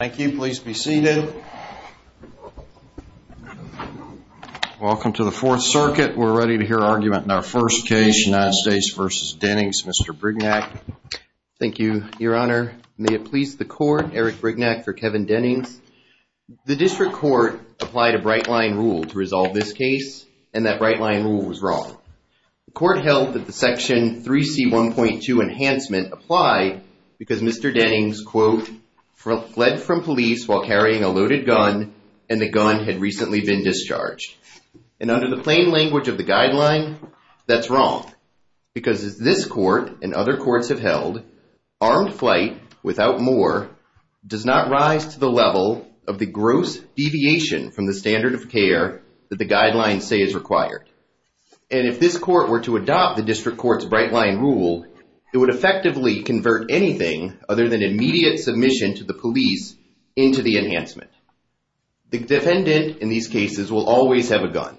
Thank you. Please be seated. Welcome to the Fourth Circuit. We're ready to hear argument in our first case, United States v. Dennings. Mr. Brignac. Thank you, Your Honor. May it please the court, Eric Brignac for Kevin Dennings. The district court applied a bright line rule to resolve this case, and that bright line rule was wrong. The court held that the Section 3C1.2 enhancement applied because Mr. Dennings, quote, fled from police while carrying a loaded gun, and the gun had recently been discharged. And under the plain language of the guideline, that's wrong. Because as this court and other courts have held, armed flight, without more, does not rise to the level of the gross deviation from the standard of care that the guidelines say is required. And if this court were to adopt the district court's bright line rule, it would effectively convert anything other than immediate submission to the police into the enhancement. The defendant in these cases will always have a gun.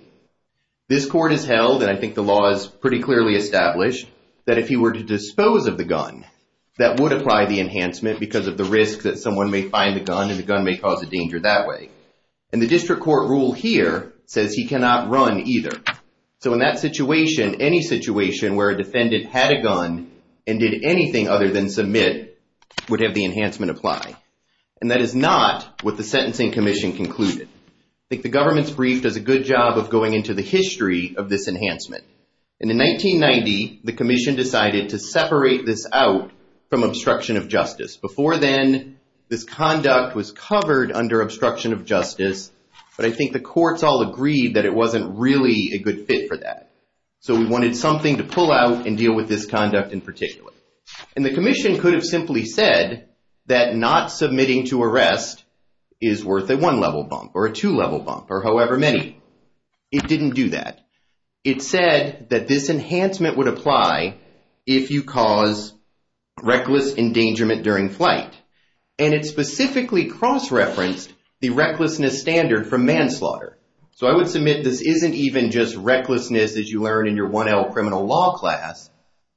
This court has held, and I think the law is pretty clearly established, that if he were to dispose of the gun, that would apply the enhancement because of the risk that someone may find the gun and the gun may cause a danger that way. And the district court rule here says he cannot run either. So in that situation, any situation where a defendant had a gun and did anything other than submit would have the enhancement apply. And that is not what the Sentencing Commission concluded. I think the government's brief does a good job of going into the history of this enhancement. And in 1990, the commission decided to separate this out from obstruction of justice. Before then, this conduct was covered under obstruction of justice, but I think the courts all agreed that it wasn't really a good fit for that. So we wanted something to pull out and deal with this conduct in particular. And the commission could have simply said that not submitting to arrest is worth a one-level bump or a two-level bump or however many. It didn't do that. It said that this enhancement would apply if you cause reckless endangerment during flight. And it specifically cross-referenced the recklessness standard for manslaughter. So I would submit this isn't even just recklessness as you learn in your 1L criminal law class.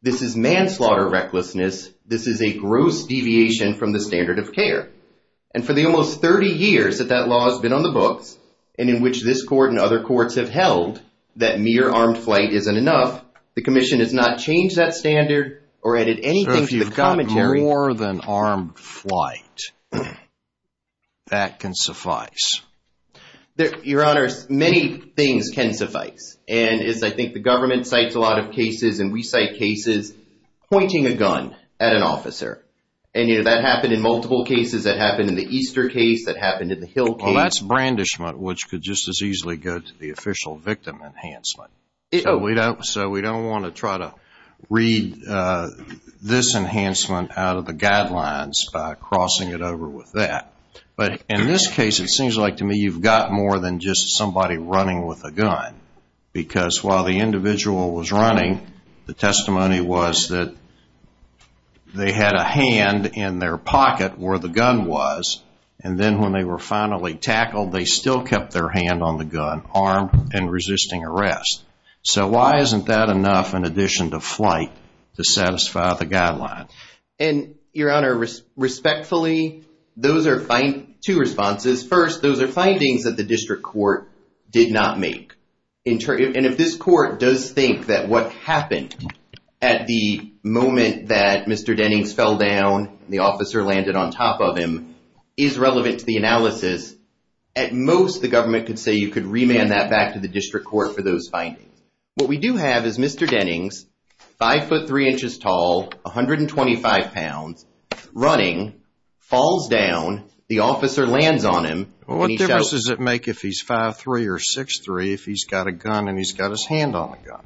This is manslaughter recklessness. This is a gross deviation from the standard of care. And for the almost 30 years that that law has been on the books and in which this court and other courts have held that mere armed flight isn't enough, the commission has not changed that standard or added anything to the commentary. So if you've got more than armed flight, that can suffice? Your Honor, many things can suffice. And I think the government cites a lot of cases and we cite cases pointing a gun at an officer. And that happened in multiple cases. That happened in the Easter case. That happened in the Hill case. Well, that's brandishment, which could just as easily go to the official victim enhancement. So we don't want to try to read this enhancement out of the guidelines by crossing it over with that. But in this case, it seems like to me you've got more than just somebody running with a gun. Because while the individual was running, the testimony was that they had a hand in their pocket where the gun was. And then when they were finally tackled, they still kept their hand on the gun, armed and resisting arrest. So why isn't that enough in addition to flight to satisfy the guideline? And Your Honor, respectfully, those are two responses. First, those are findings that the district court did not make. And if this court does think that what happened at the moment that Mr. Dennings fell down, the officer landed on top of him, is relevant to the analysis, at most, the government could say you could remand that back to the district court for those findings. What we do have is Mr. Dennings, 5'3", 125 pounds, running, falls down, the officer lands on him. What difference does it make if he's 5'3", or 6'3", if he's got a gun and he's got his hand on the gun?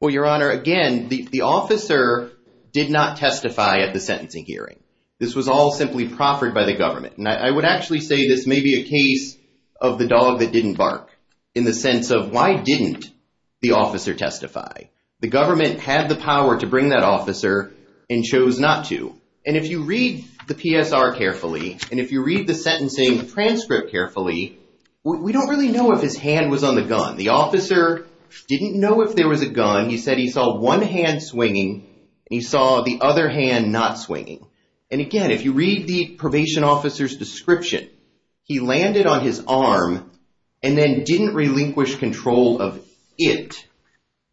Well, Your Honor, again, the officer did not testify at the sentencing hearing. This was all simply proffered by the government. And I would actually say this may be a case of the dog that didn't bark. In the sense of why didn't the officer testify? The government had the power to bring that officer and chose not to. And if you read the PSR carefully, and if you read the sentencing transcript carefully, we don't really know if his hand was on the gun. The officer didn't know if there was a gun. He said he saw one hand swinging and he saw the other hand not swinging. And again, if you read the probation officer's description, he landed on his arm and then didn't relinquish control of it.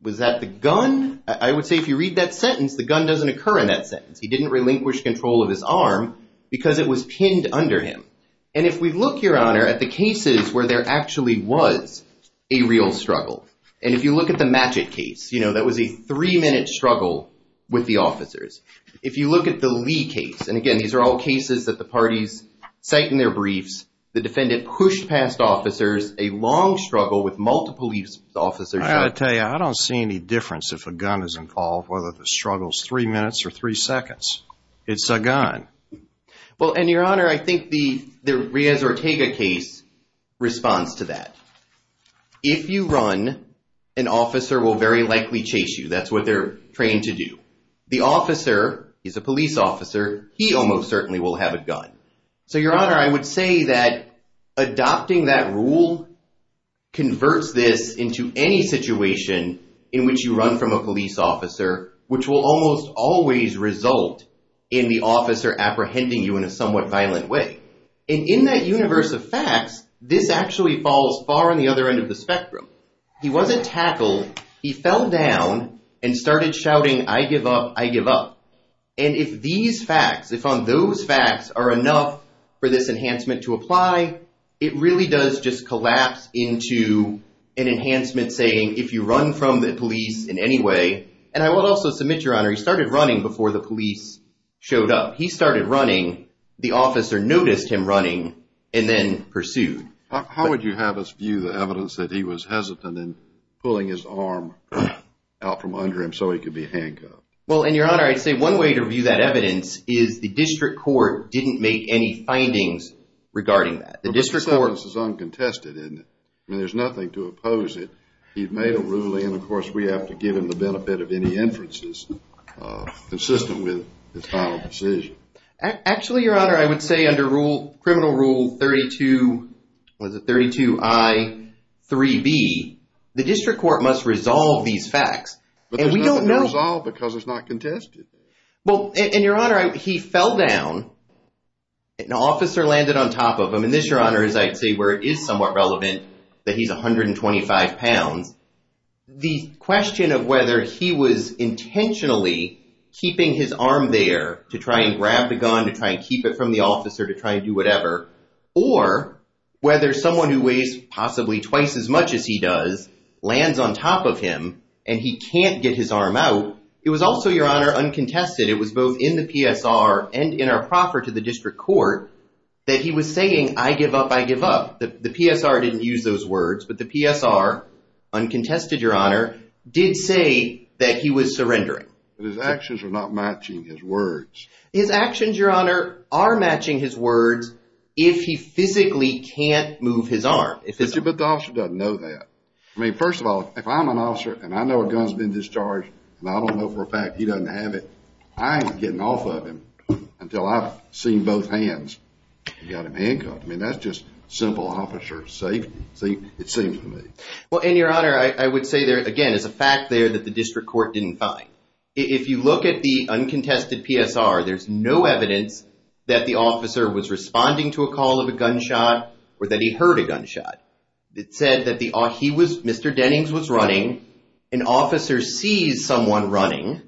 Was that the gun? I would say if you read that sentence, the gun doesn't occur in that sentence. He didn't relinquish control of his arm because it was pinned under him. And if we look, Your Honor, at the cases where there actually was a real struggle. And if you look at the Matchett case, you know, that was a three-minute struggle with the officers. If you look at the Lee case, and again, these are all cases that the parties cite in their briefs, the defendant pushed past officers, a long struggle with multiple police officers. I've got to tell you, I don't see any difference if a gun is involved, whether the struggle is three minutes or three seconds. It's a gun. Well, and Your Honor, I think the Riaz Ortega case responds to that. If you run, an officer will very likely chase you. That's what they're trained to do. The officer is a police officer. He almost certainly will have a gun. So, Your Honor, I would say that adopting that rule converts this into any situation in which you run from a police officer, which will almost always result in the officer apprehending you in a somewhat violent way. And in that universe of facts, this actually falls far on the other end of the spectrum. He wasn't tackled. He fell down and started shouting, I give up, I give up. And if these facts, if on those facts are enough for this enhancement to apply, it really does just collapse into an enhancement saying if you run from the police in any way. And I will also submit, Your Honor, he started running before the police showed up. He started running. The officer noticed him running and then pursued. How would you have us view the evidence that he was hesitant in pulling his arm out from under him so he could be handcuffed? Well, and, Your Honor, I'd say one way to view that evidence is the district court didn't make any findings regarding that. The district court... But this evidence is uncontested, isn't it? I mean, there's nothing to oppose it. He'd made a ruling and, of course, we have to give him the benefit of any inferences consistent with his final decision. Actually, Your Honor, I would say under rule, criminal rule 32, was it 32I, 3B, the district court must resolve these facts. But they have to be resolved because it's not contested. Well, and, Your Honor, he fell down. An officer landed on top of him. And this, Your Honor, is I'd say where it is somewhat relevant that he's 125 pounds. The question of whether he was intentionally keeping his arm there to try and grab the gun, to try and keep it from the officer, to try and do whatever, or whether someone who weighs possibly twice as much as he does lands on top of him and he can't get his arm out. It was also, Your Honor, uncontested. It was both in the PSR and in our proffer to the district court that he was saying, I give up, I give up. The PSR didn't use those words, but the PSR, uncontested, Your Honor, did say that he was surrendering. His actions are not matching his words. His actions, Your Honor, are matching his words if he physically can't move his arm. But the officer doesn't know that. I mean, first of all, if I'm an officer and I know a gun's been discharged and I don't know for a fact he doesn't have it, I ain't getting off of him until I've seen both hands. He got him handcuffed. I mean, that's just simple officer safety, it seems to me. Well, and Your Honor, I would say there, again, is a fact there that the district court didn't find. If you look at the uncontested PSR, there's no evidence that the officer was responding to a call of a gunshot or that he heard a gunshot. It said that Mr. Dennings was running, an officer sees someone running,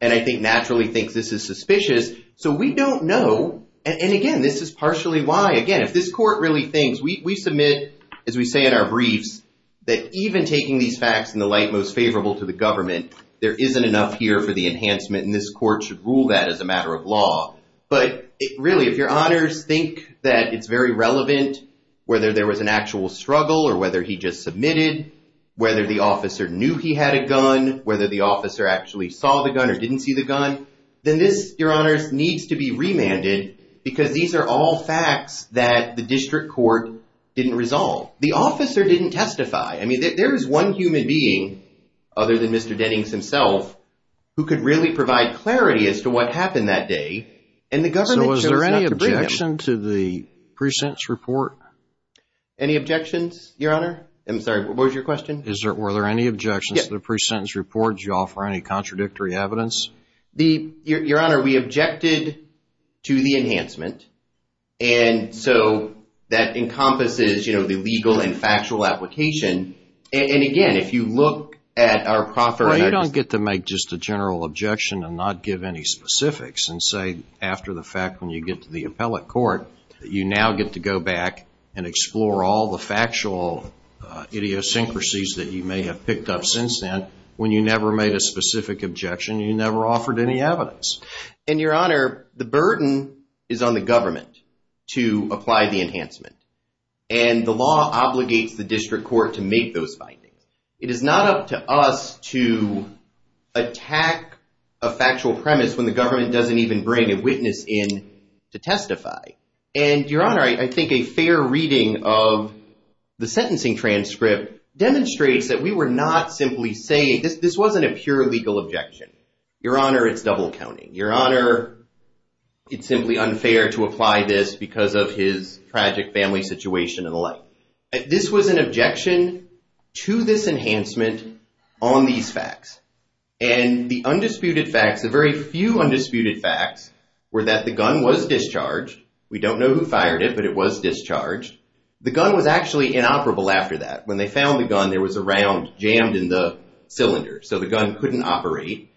and I think naturally thinks this is suspicious. So we don't know, and again, this is partially why, again, if this court really thinks, we submit, as we say in our briefs, that even taking these facts in the light most favorable to the government, there isn't enough here for the enhancement, and this court should rule that as a matter of law. But really, if Your Honors think that it's very relevant whether there was an actual struggle or whether he just submitted, whether the officer knew he had a gun, whether the officer actually saw the gun or didn't see the gun, then this, Your Honors, needs to be remanded because these are all facts that the district court didn't resolve. The officer didn't testify. I mean, there is one human being, other than Mr. Dennings himself, who could really provide clarity as to what happened that day, and the government chose not to bring him. So was there any objection to the pre-sentence report? Any objections, Your Honor? I'm sorry, what was your question? Is there, were there any objections to the pre-sentence report? Did you offer any contradictory evidence? Your Honor, we objected to the enhancement, and so that encompasses, you know, the legal and factual application. And again, if you look at our proper... Well, you don't get to make just a general objection and not give any specifics and say, after the fact, when you get to the appellate court, you now get to go back and explore all the factual idiosyncrasies that you may have picked up since then, when you never made a specific objection, you never offered any evidence. And, Your Honor, the burden is on the government to apply the enhancement, and the law obligates the district court to make those findings. It is not up to us to attack a factual premise when the government doesn't even bring a witness in to testify. And, Your Honor, I think a fair reading of the sentencing transcript demonstrates that we were not simply saying, this wasn't a pure legal objection. Your Honor, it's double counting. Your Honor, it's simply unfair to apply this because of his tragic family situation and the like. This was an objection to this enhancement on these facts. And the undisputed facts, the very few undisputed facts, were that the gun was discharged. We don't know who fired it, but it was discharged. The gun was actually inoperable after that. When they found the gun, there was a round jammed in the cylinder, so the gun couldn't operate.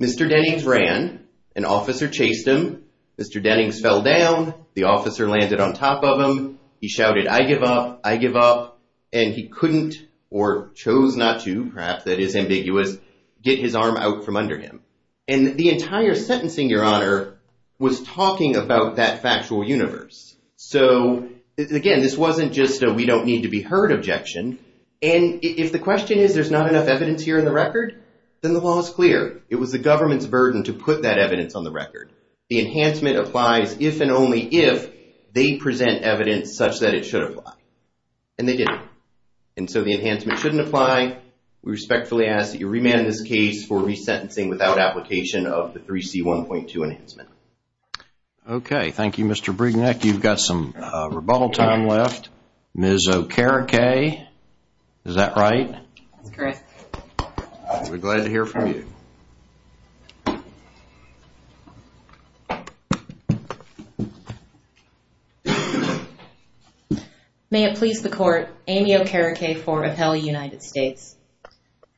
Mr. Dennings ran, an officer chased him. Mr. Dennings fell down, the officer landed on top of him. He shouted, I give up, I give up. And he couldn't, or chose not to, perhaps that is ambiguous, get his arm out from under him. And the entire sentencing, Your Honor, was talking about that factual universe. So, again, this wasn't just a we don't need to be heard objection. And if the question is there's not enough evidence here in the record, then the law is clear. It was the government's burden to put that evidence on the record. The enhancement applies if and only if they present evidence such that it should apply. And they didn't. And so the enhancement shouldn't apply. We respectfully ask that you remand this case for resentencing without application of the 3C1.2 enhancement. Okay. Thank you, Mr. Brignac. You've got some rebuttal time left. Ms. Okereke, is that right? That's correct. We're glad to hear from you. May it please the court, Amy Okereke for Appellee United States.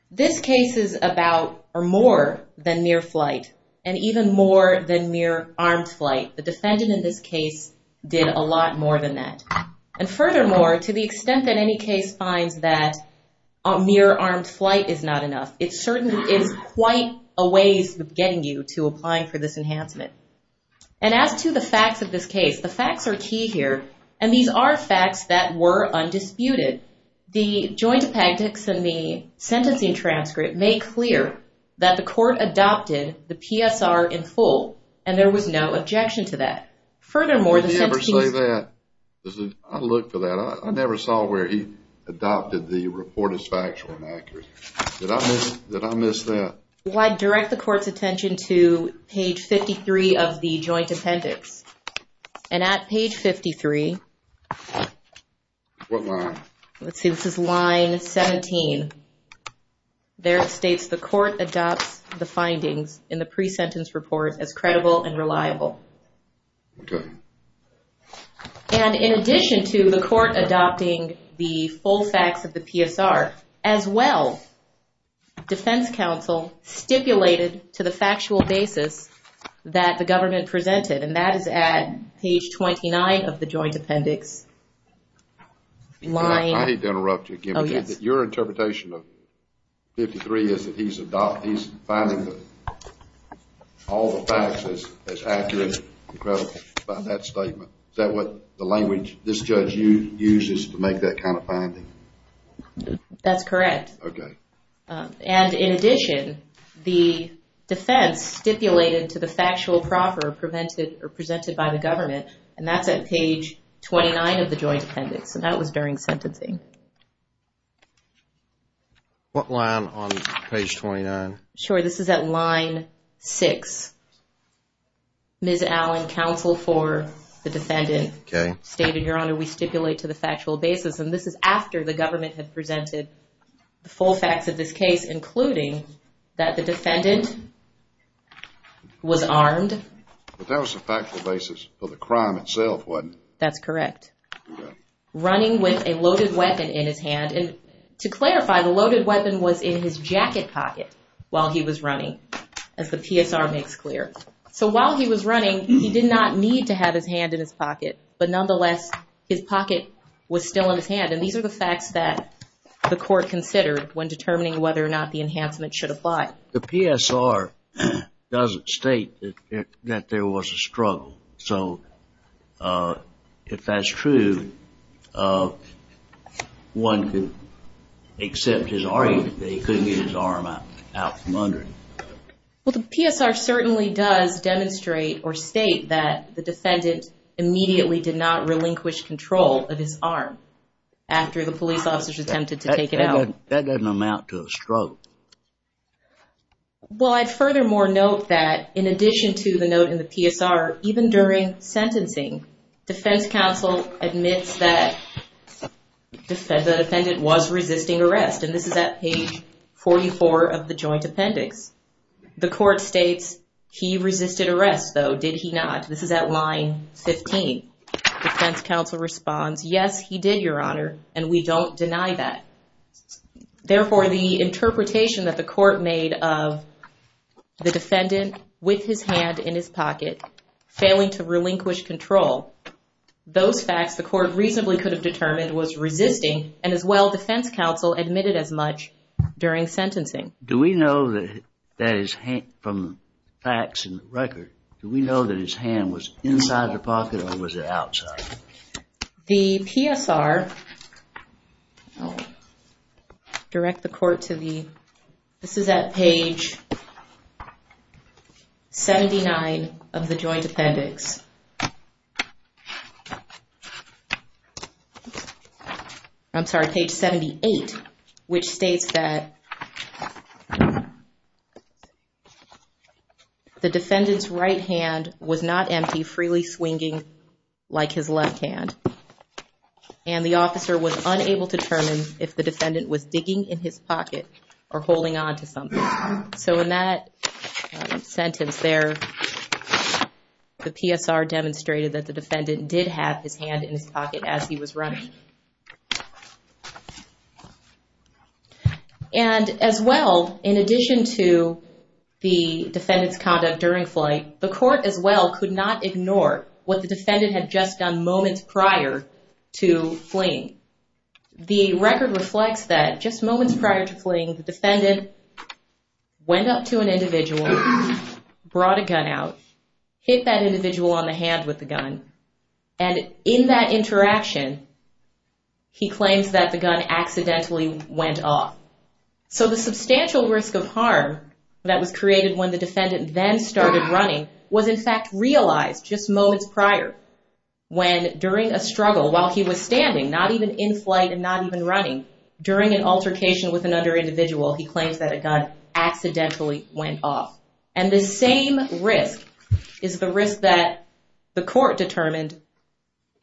This case is about, or more than near flight, and even more than near armed flight. The defendant in this case did a lot more than that. And furthermore, to the extent that any case finds that near armed flight is not enough, it certainly is quite a ways of getting you to apply for this enhancement. And as to the facts of this case, the facts are key here. And these are facts that were undisputed. The joint appendix and the sentencing transcript make clear that the court adopted the PSR in full. And there was no objection to that. Furthermore, the sentencing... Did he ever say that? I looked for that. I never saw where he adopted the report as factual and accurate. Did I miss that? I direct the court's attention to page 53 of the joint appendix. And at page 53... What line? Let's see, this is line 17. There it states, the court adopts the findings in the pre-sentence report as credible and reliable. Okay. And in addition to the court adopting the full facts of the PSR, as well, defense counsel stipulated to the factual basis that the government presented. And that is at page 29 of the joint appendix. I hate to interrupt you, Kim, but your interpretation of 53 is that he's finding all the facts as accurate and credible about that statement. Is that what the language this judge uses to make that kind of finding? That's correct. Okay. And in addition, the defense stipulated to the factual proper presented by the government. And that's at page 29 of the joint appendix. And that was during sentencing. What line on page 29? Sure, this is at line 6. Ms. Allen, counsel for the defendant, stated, Your Honor, we stipulate to the factual basis. And this is after the government had presented the full facts of this case, including that the defendant was armed. But that was the factual basis for the crime itself, wasn't it? That's correct. Running with a loaded weapon in his hand. And to clarify, the loaded weapon was in his jacket pocket while he was running, as the PSR makes clear. So while he was running, he did not need to have his hand in his pocket. But nonetheless, his pocket was still in his hand. And these are the facts that the court considered when determining whether or not the enhancement should apply. The PSR doesn't state that there was a struggle. So if that's true, one could accept his argument that he couldn't get his arm out from under him. The defendant immediately did not relinquish control of his arm after the police officers attempted to take it out. That doesn't amount to a struggle. Well, I'd furthermore note that in addition to the note in the PSR, even during sentencing, defense counsel admits that the defendant was resisting arrest. And this is at page 44 of the joint appendix. The court states he resisted arrest, though, did he not? This is at line 15. Defense counsel responds, yes, he did, Your Honor. And we don't deny that. Therefore, the interpretation that the court made of the defendant with his hand in his pocket failing to relinquish control, those facts the court reasonably could have determined was resisting. And as well, defense counsel admitted as much during sentencing. Do we know that that is from facts in the record? Do we know that his hand was inside the pocket or was it outside? The PSR, direct the court to the, this is at page 79 of the joint appendix. I'm sorry, page 78, which states that the defendant's right hand was not empty, freely swinging like his left hand. And the officer was unable to determine if the defendant was digging in his pocket or holding on to something. So in that sentence there, the PSR demonstrated that the defendant did have his hand in his pocket as he was running. And as well, in addition to the defendant's conduct during flight, the court as well could not ignore what the defendant had just done moments prior to fleeing. The record reflects that just moments prior to fleeing, the defendant went up to an individual, brought a gun out, hit that individual on the hand with the gun. And in that interaction, he claims that the gun accidentally went off. So the substantial risk of harm that was created when the defendant then started running was in fact realized just moments prior. When during a struggle while he was standing, not even in flight and not even running, during an altercation with another individual, he claims that a gun accidentally went off. And the same risk is the risk that the court determined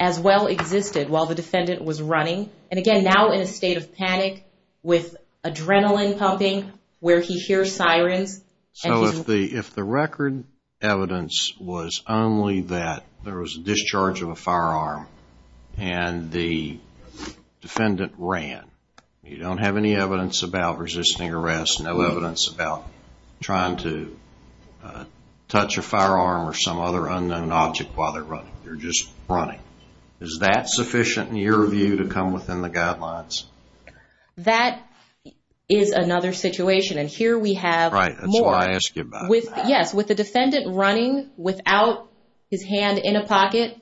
as well existed while the defendant was running. And again, now in a state of panic with adrenaline pumping, where he hears sirens. So if the record evidence was only that there was a discharge of a firearm and the defendant ran, you don't have any evidence about resisting arrest, no evidence about trying to touch a firearm or some other unknown object while they're running. They're just running. Is that sufficient in your view to come within the guidelines? That is another situation. And here we have more. Right, that's why I ask you about it. Yes, with the defendant running without his hand in a pocket,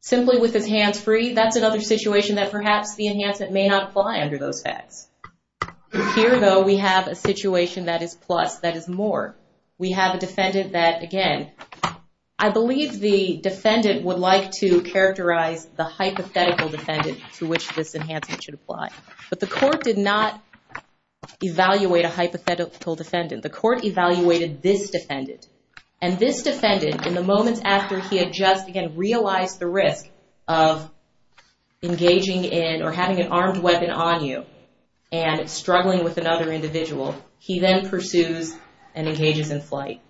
simply with his hands free, that's another situation that perhaps the enhancement may not apply under those facts. Here though, we have a situation that is plus, that is more. We have a defendant that, again, I believe the defendant would like to characterize the hypothetical defendant to which this enhancement should apply. But the court did not evaluate a hypothetical defendant. The court evaluated this defendant. And this defendant, in the moments after he had just again realized the risk of engaging in or having an armed weapon on you and struggling with another individual, he then pursues and engages in flight.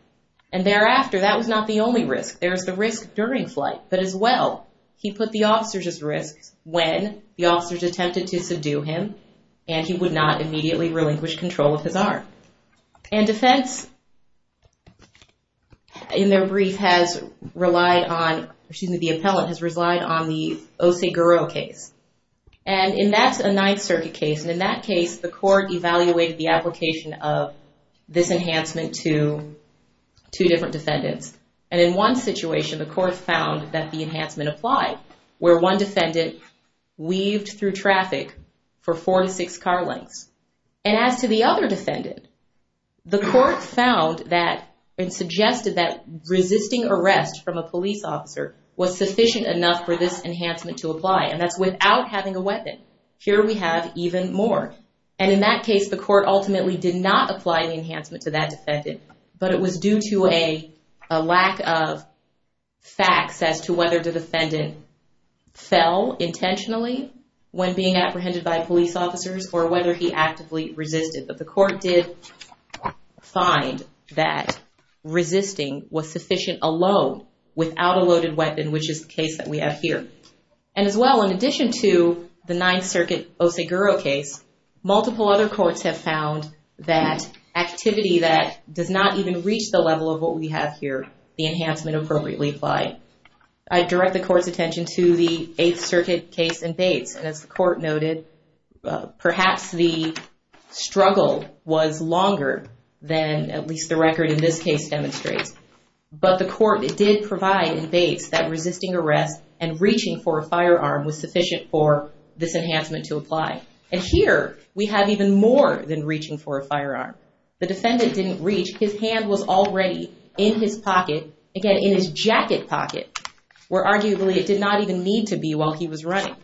And thereafter, that was not the only risk. There was the risk during flight. But as well, he put the officers at risk when the officers attempted to subdue him and he would not immediately relinquish control of his arm. And defense in their brief has relied on, excuse me, the appellant has relied on the Oseguro case. And in that's a Ninth Circuit case. In that case, the court evaluated the application of this enhancement to two different defendants. And in one situation, the court found that the enhancement applied, where one defendant weaved through traffic for four to six car lengths. And as to the other defendant, the court found that and suggested that resisting arrest from a police officer was sufficient enough for this enhancement to apply. And that's without having a weapon. Here we have even more. And in that case, the court ultimately did not apply the enhancement to that defendant. But it was due to a lack of facts as to whether the defendant fell intentionally when being apprehended by police officers or whether he actively resisted. But the court did find that resisting was sufficient alone without a loaded weapon, which is the case that we have here. And as well, in addition to the Ninth Circuit Oseguro case, multiple other courts have found that activity that does not even reach the level of what we have here, the enhancement appropriately applied. I direct the court's attention to the Eighth Circuit case in Bates. And as the court noted, perhaps the struggle was longer than at least the record in this case demonstrates. But the court did provide in Bates that resisting arrest and reaching for a firearm was sufficient for this enhancement to apply. And here we have even more than reaching for a firearm. The defendant didn't reach. His hand was already in his pocket, again, in his jacket pocket, where arguably it did not even need to be while he was running.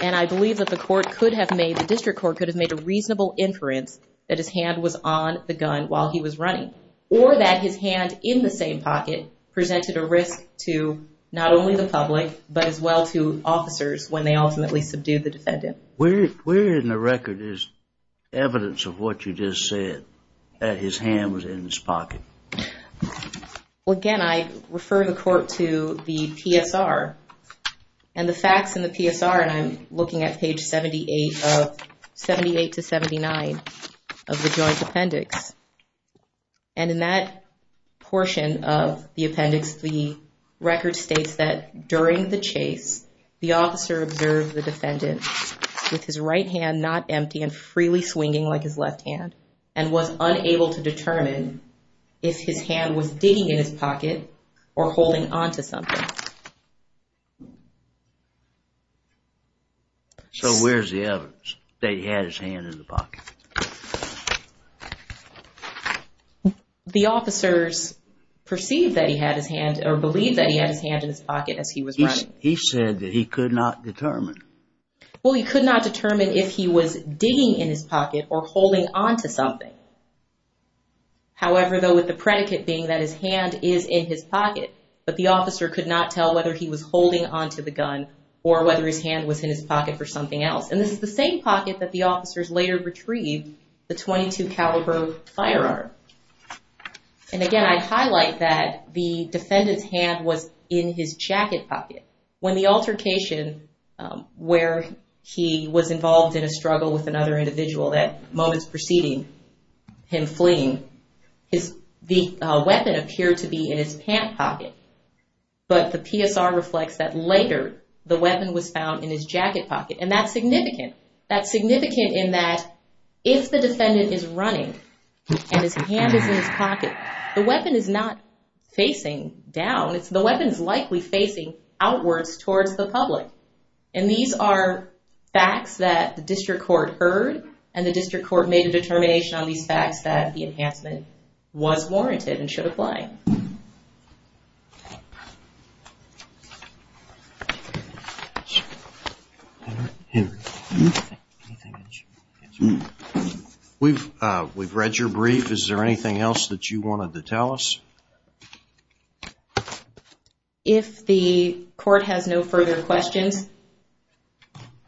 And I believe that the court could have made, the district court could have made a reasonable inference that his hand was on the gun while he was running or that his hand in the same pocket presented a risk to not only the public, but as well to officers when they ultimately subdued the defendant. Where in the record is evidence of what you just said that his hand was in his pocket? Well, again, I refer the court to the PSR and the facts in the PSR. And I'm looking at page 78 of 78 to 79 of the Joint Appendix. And in that portion of the appendix, the record states that during the chase, the officer observed the defendant with his right hand not empty and freely swinging like his left hand and was unable to determine if his hand was digging in his pocket or holding onto something. The officers perceived that he had his hand or believed that he had his hand in his pocket as he was running. He said that he could not determine. Well, he could not determine if he was digging in his pocket or holding onto something. However, though, with the predicate being that his hand is in his pocket, but the officer could not tell whether he was holding onto the gun or whether his hand was in his pocket for something else. And this is the same pocket that the officers later retrieved the .22 caliber firearm. And again, I'd highlight that the defendant's hand was in his jacket pocket. When the altercation where he was involved in a struggle with another individual that moments preceding him fleeing, the weapon appeared to be in his pant pocket. But the PSR reflects that later, the weapon was found in his jacket pocket. And that's significant. That's significant in that if the defendant is running and his hand is in his pocket, the weapon is not facing down. It's the weapon is likely facing outwards towards the public. And these are facts that the district court heard. And the district court made a determination on these facts that the enhancement was warranted and should apply. We've read your brief. Is there anything else that you wanted to tell us? If the court has no further questions,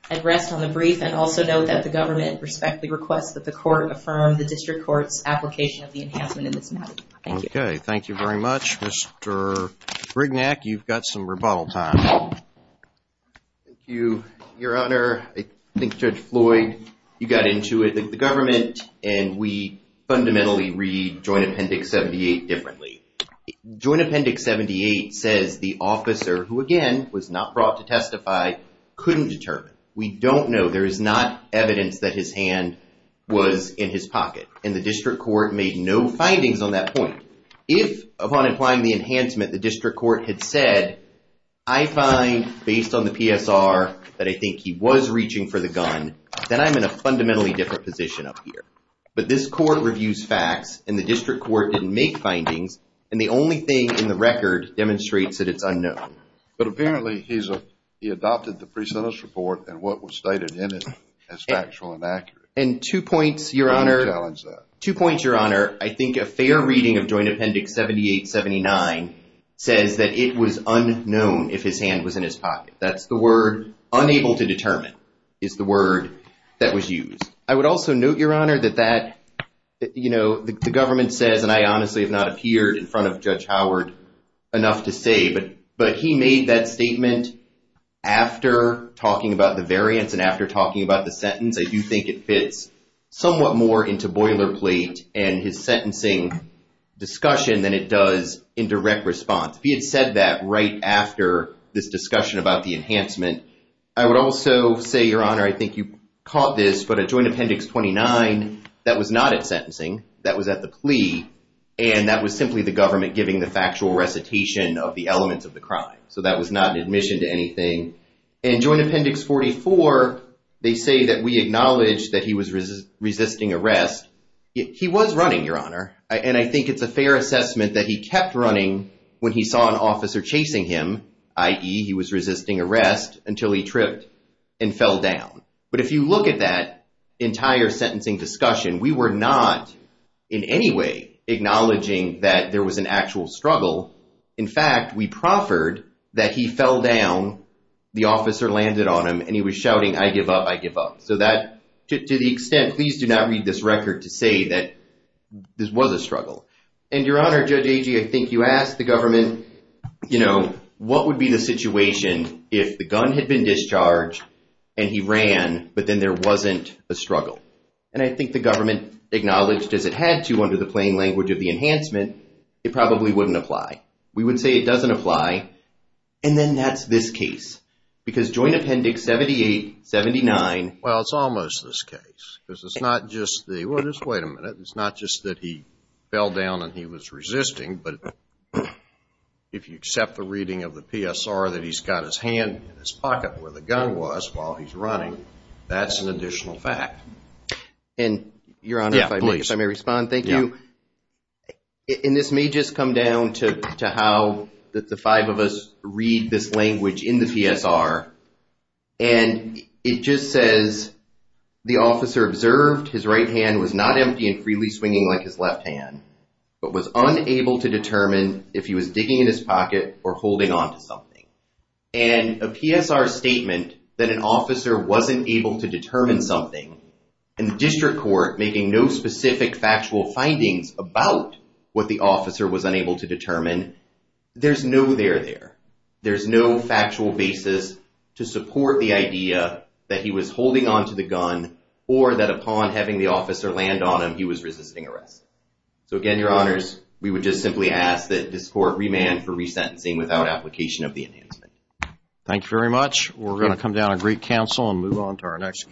I'd rest on the brief and also note that the government respectfully requests that the court affirm the district court's application of the enhancement in this matter. Okay, thank you very much, Mr. Brignac. You've got some rebuttal time. Thank you, your honor. I think Judge Floyd, you got into it. The government and we fundamentally read Joint Appendix 78 differently. Joint Appendix 78 says the officer, who again was not brought to testify, couldn't determine. We don't know. There is not evidence that his hand was in his pocket. And the district court made no findings on that point. If, upon applying the enhancement, the district court had said, I find based on the PSR that I think he was reaching for the gun, then I'm in a fundamentally different position up here. But this court reviews facts and the district court didn't make findings. And the only thing in the record demonstrates that it's unknown. But apparently he adopted the pre-sentence report and what was stated in it as factual and accurate. And two points, your honor. Two points, your honor. I think a fair reading of Joint Appendix 78-79 says that it was unknown if his hand was in his pocket. That's the word, unable to determine, is the word that was used. I would also note, your honor, that the government says, and I honestly have not appeared in front of Judge Howard enough to say, but he made that statement after talking about the variance and after talking about the sentence. I do think it fits somewhat more into boilerplate and his sentencing discussion than it does in direct response. If he had said that right after this discussion about the enhancement, I would also say, your honor, I think you caught this, but at Joint Appendix 29, that was not at sentencing. That was at the plea. And that was simply the government giving the factual recitation of the elements of the crime. So that was not an admission to anything. In Joint Appendix 44, they say that we acknowledge that he was resisting arrest. He was running, your honor. And I think it's a fair assessment that he kept running when he saw an officer chasing him, i.e. he was resisting arrest until he tripped and fell down. But if you look at that entire sentencing discussion, we were not in any way acknowledging that there was an actual struggle. In fact, we proffered that he fell down, the officer landed on him and he was shouting, I give up, I give up. So that, to the extent, please do not read this record to say that this was a struggle. And your honor, Judge Agee, I think you asked the government, you know, what would be the situation if the gun had been discharged and he ran, but then there wasn't a struggle. And I think the government acknowledged as it had to under the plain language of the enhancement, it probably wouldn't apply. We would say it doesn't apply. And then that's this case. Because Joint Appendix 7879. Well, it's almost this case. Because it's not just the, well, just wait a minute. It's not just that he fell down and he was resisting, but if you accept the reading of the PSR that he's got his hand in his pocket where the gun was while he's running, that's an additional fact. And your honor, if I may respond, thank you. And this may just come down to how the five of us read this language in the PSR. And it just says, the officer observed his right hand was not empty and freely swinging like his left hand, but was unable to determine if he was digging in his pocket or holding onto something. And a PSR statement that an officer wasn't able to determine something and the district court making no specific factual findings about what the officer was unable to determine, there's no there there. There's no factual basis to support the idea that he was holding onto the gun or that upon having the officer land on him, he was resisting arrest. So again, your honors, we would just simply ask that this court remand for resentencing without application of the enhancement. Thank you very much. We're going to come down a great counsel and move on to our next case.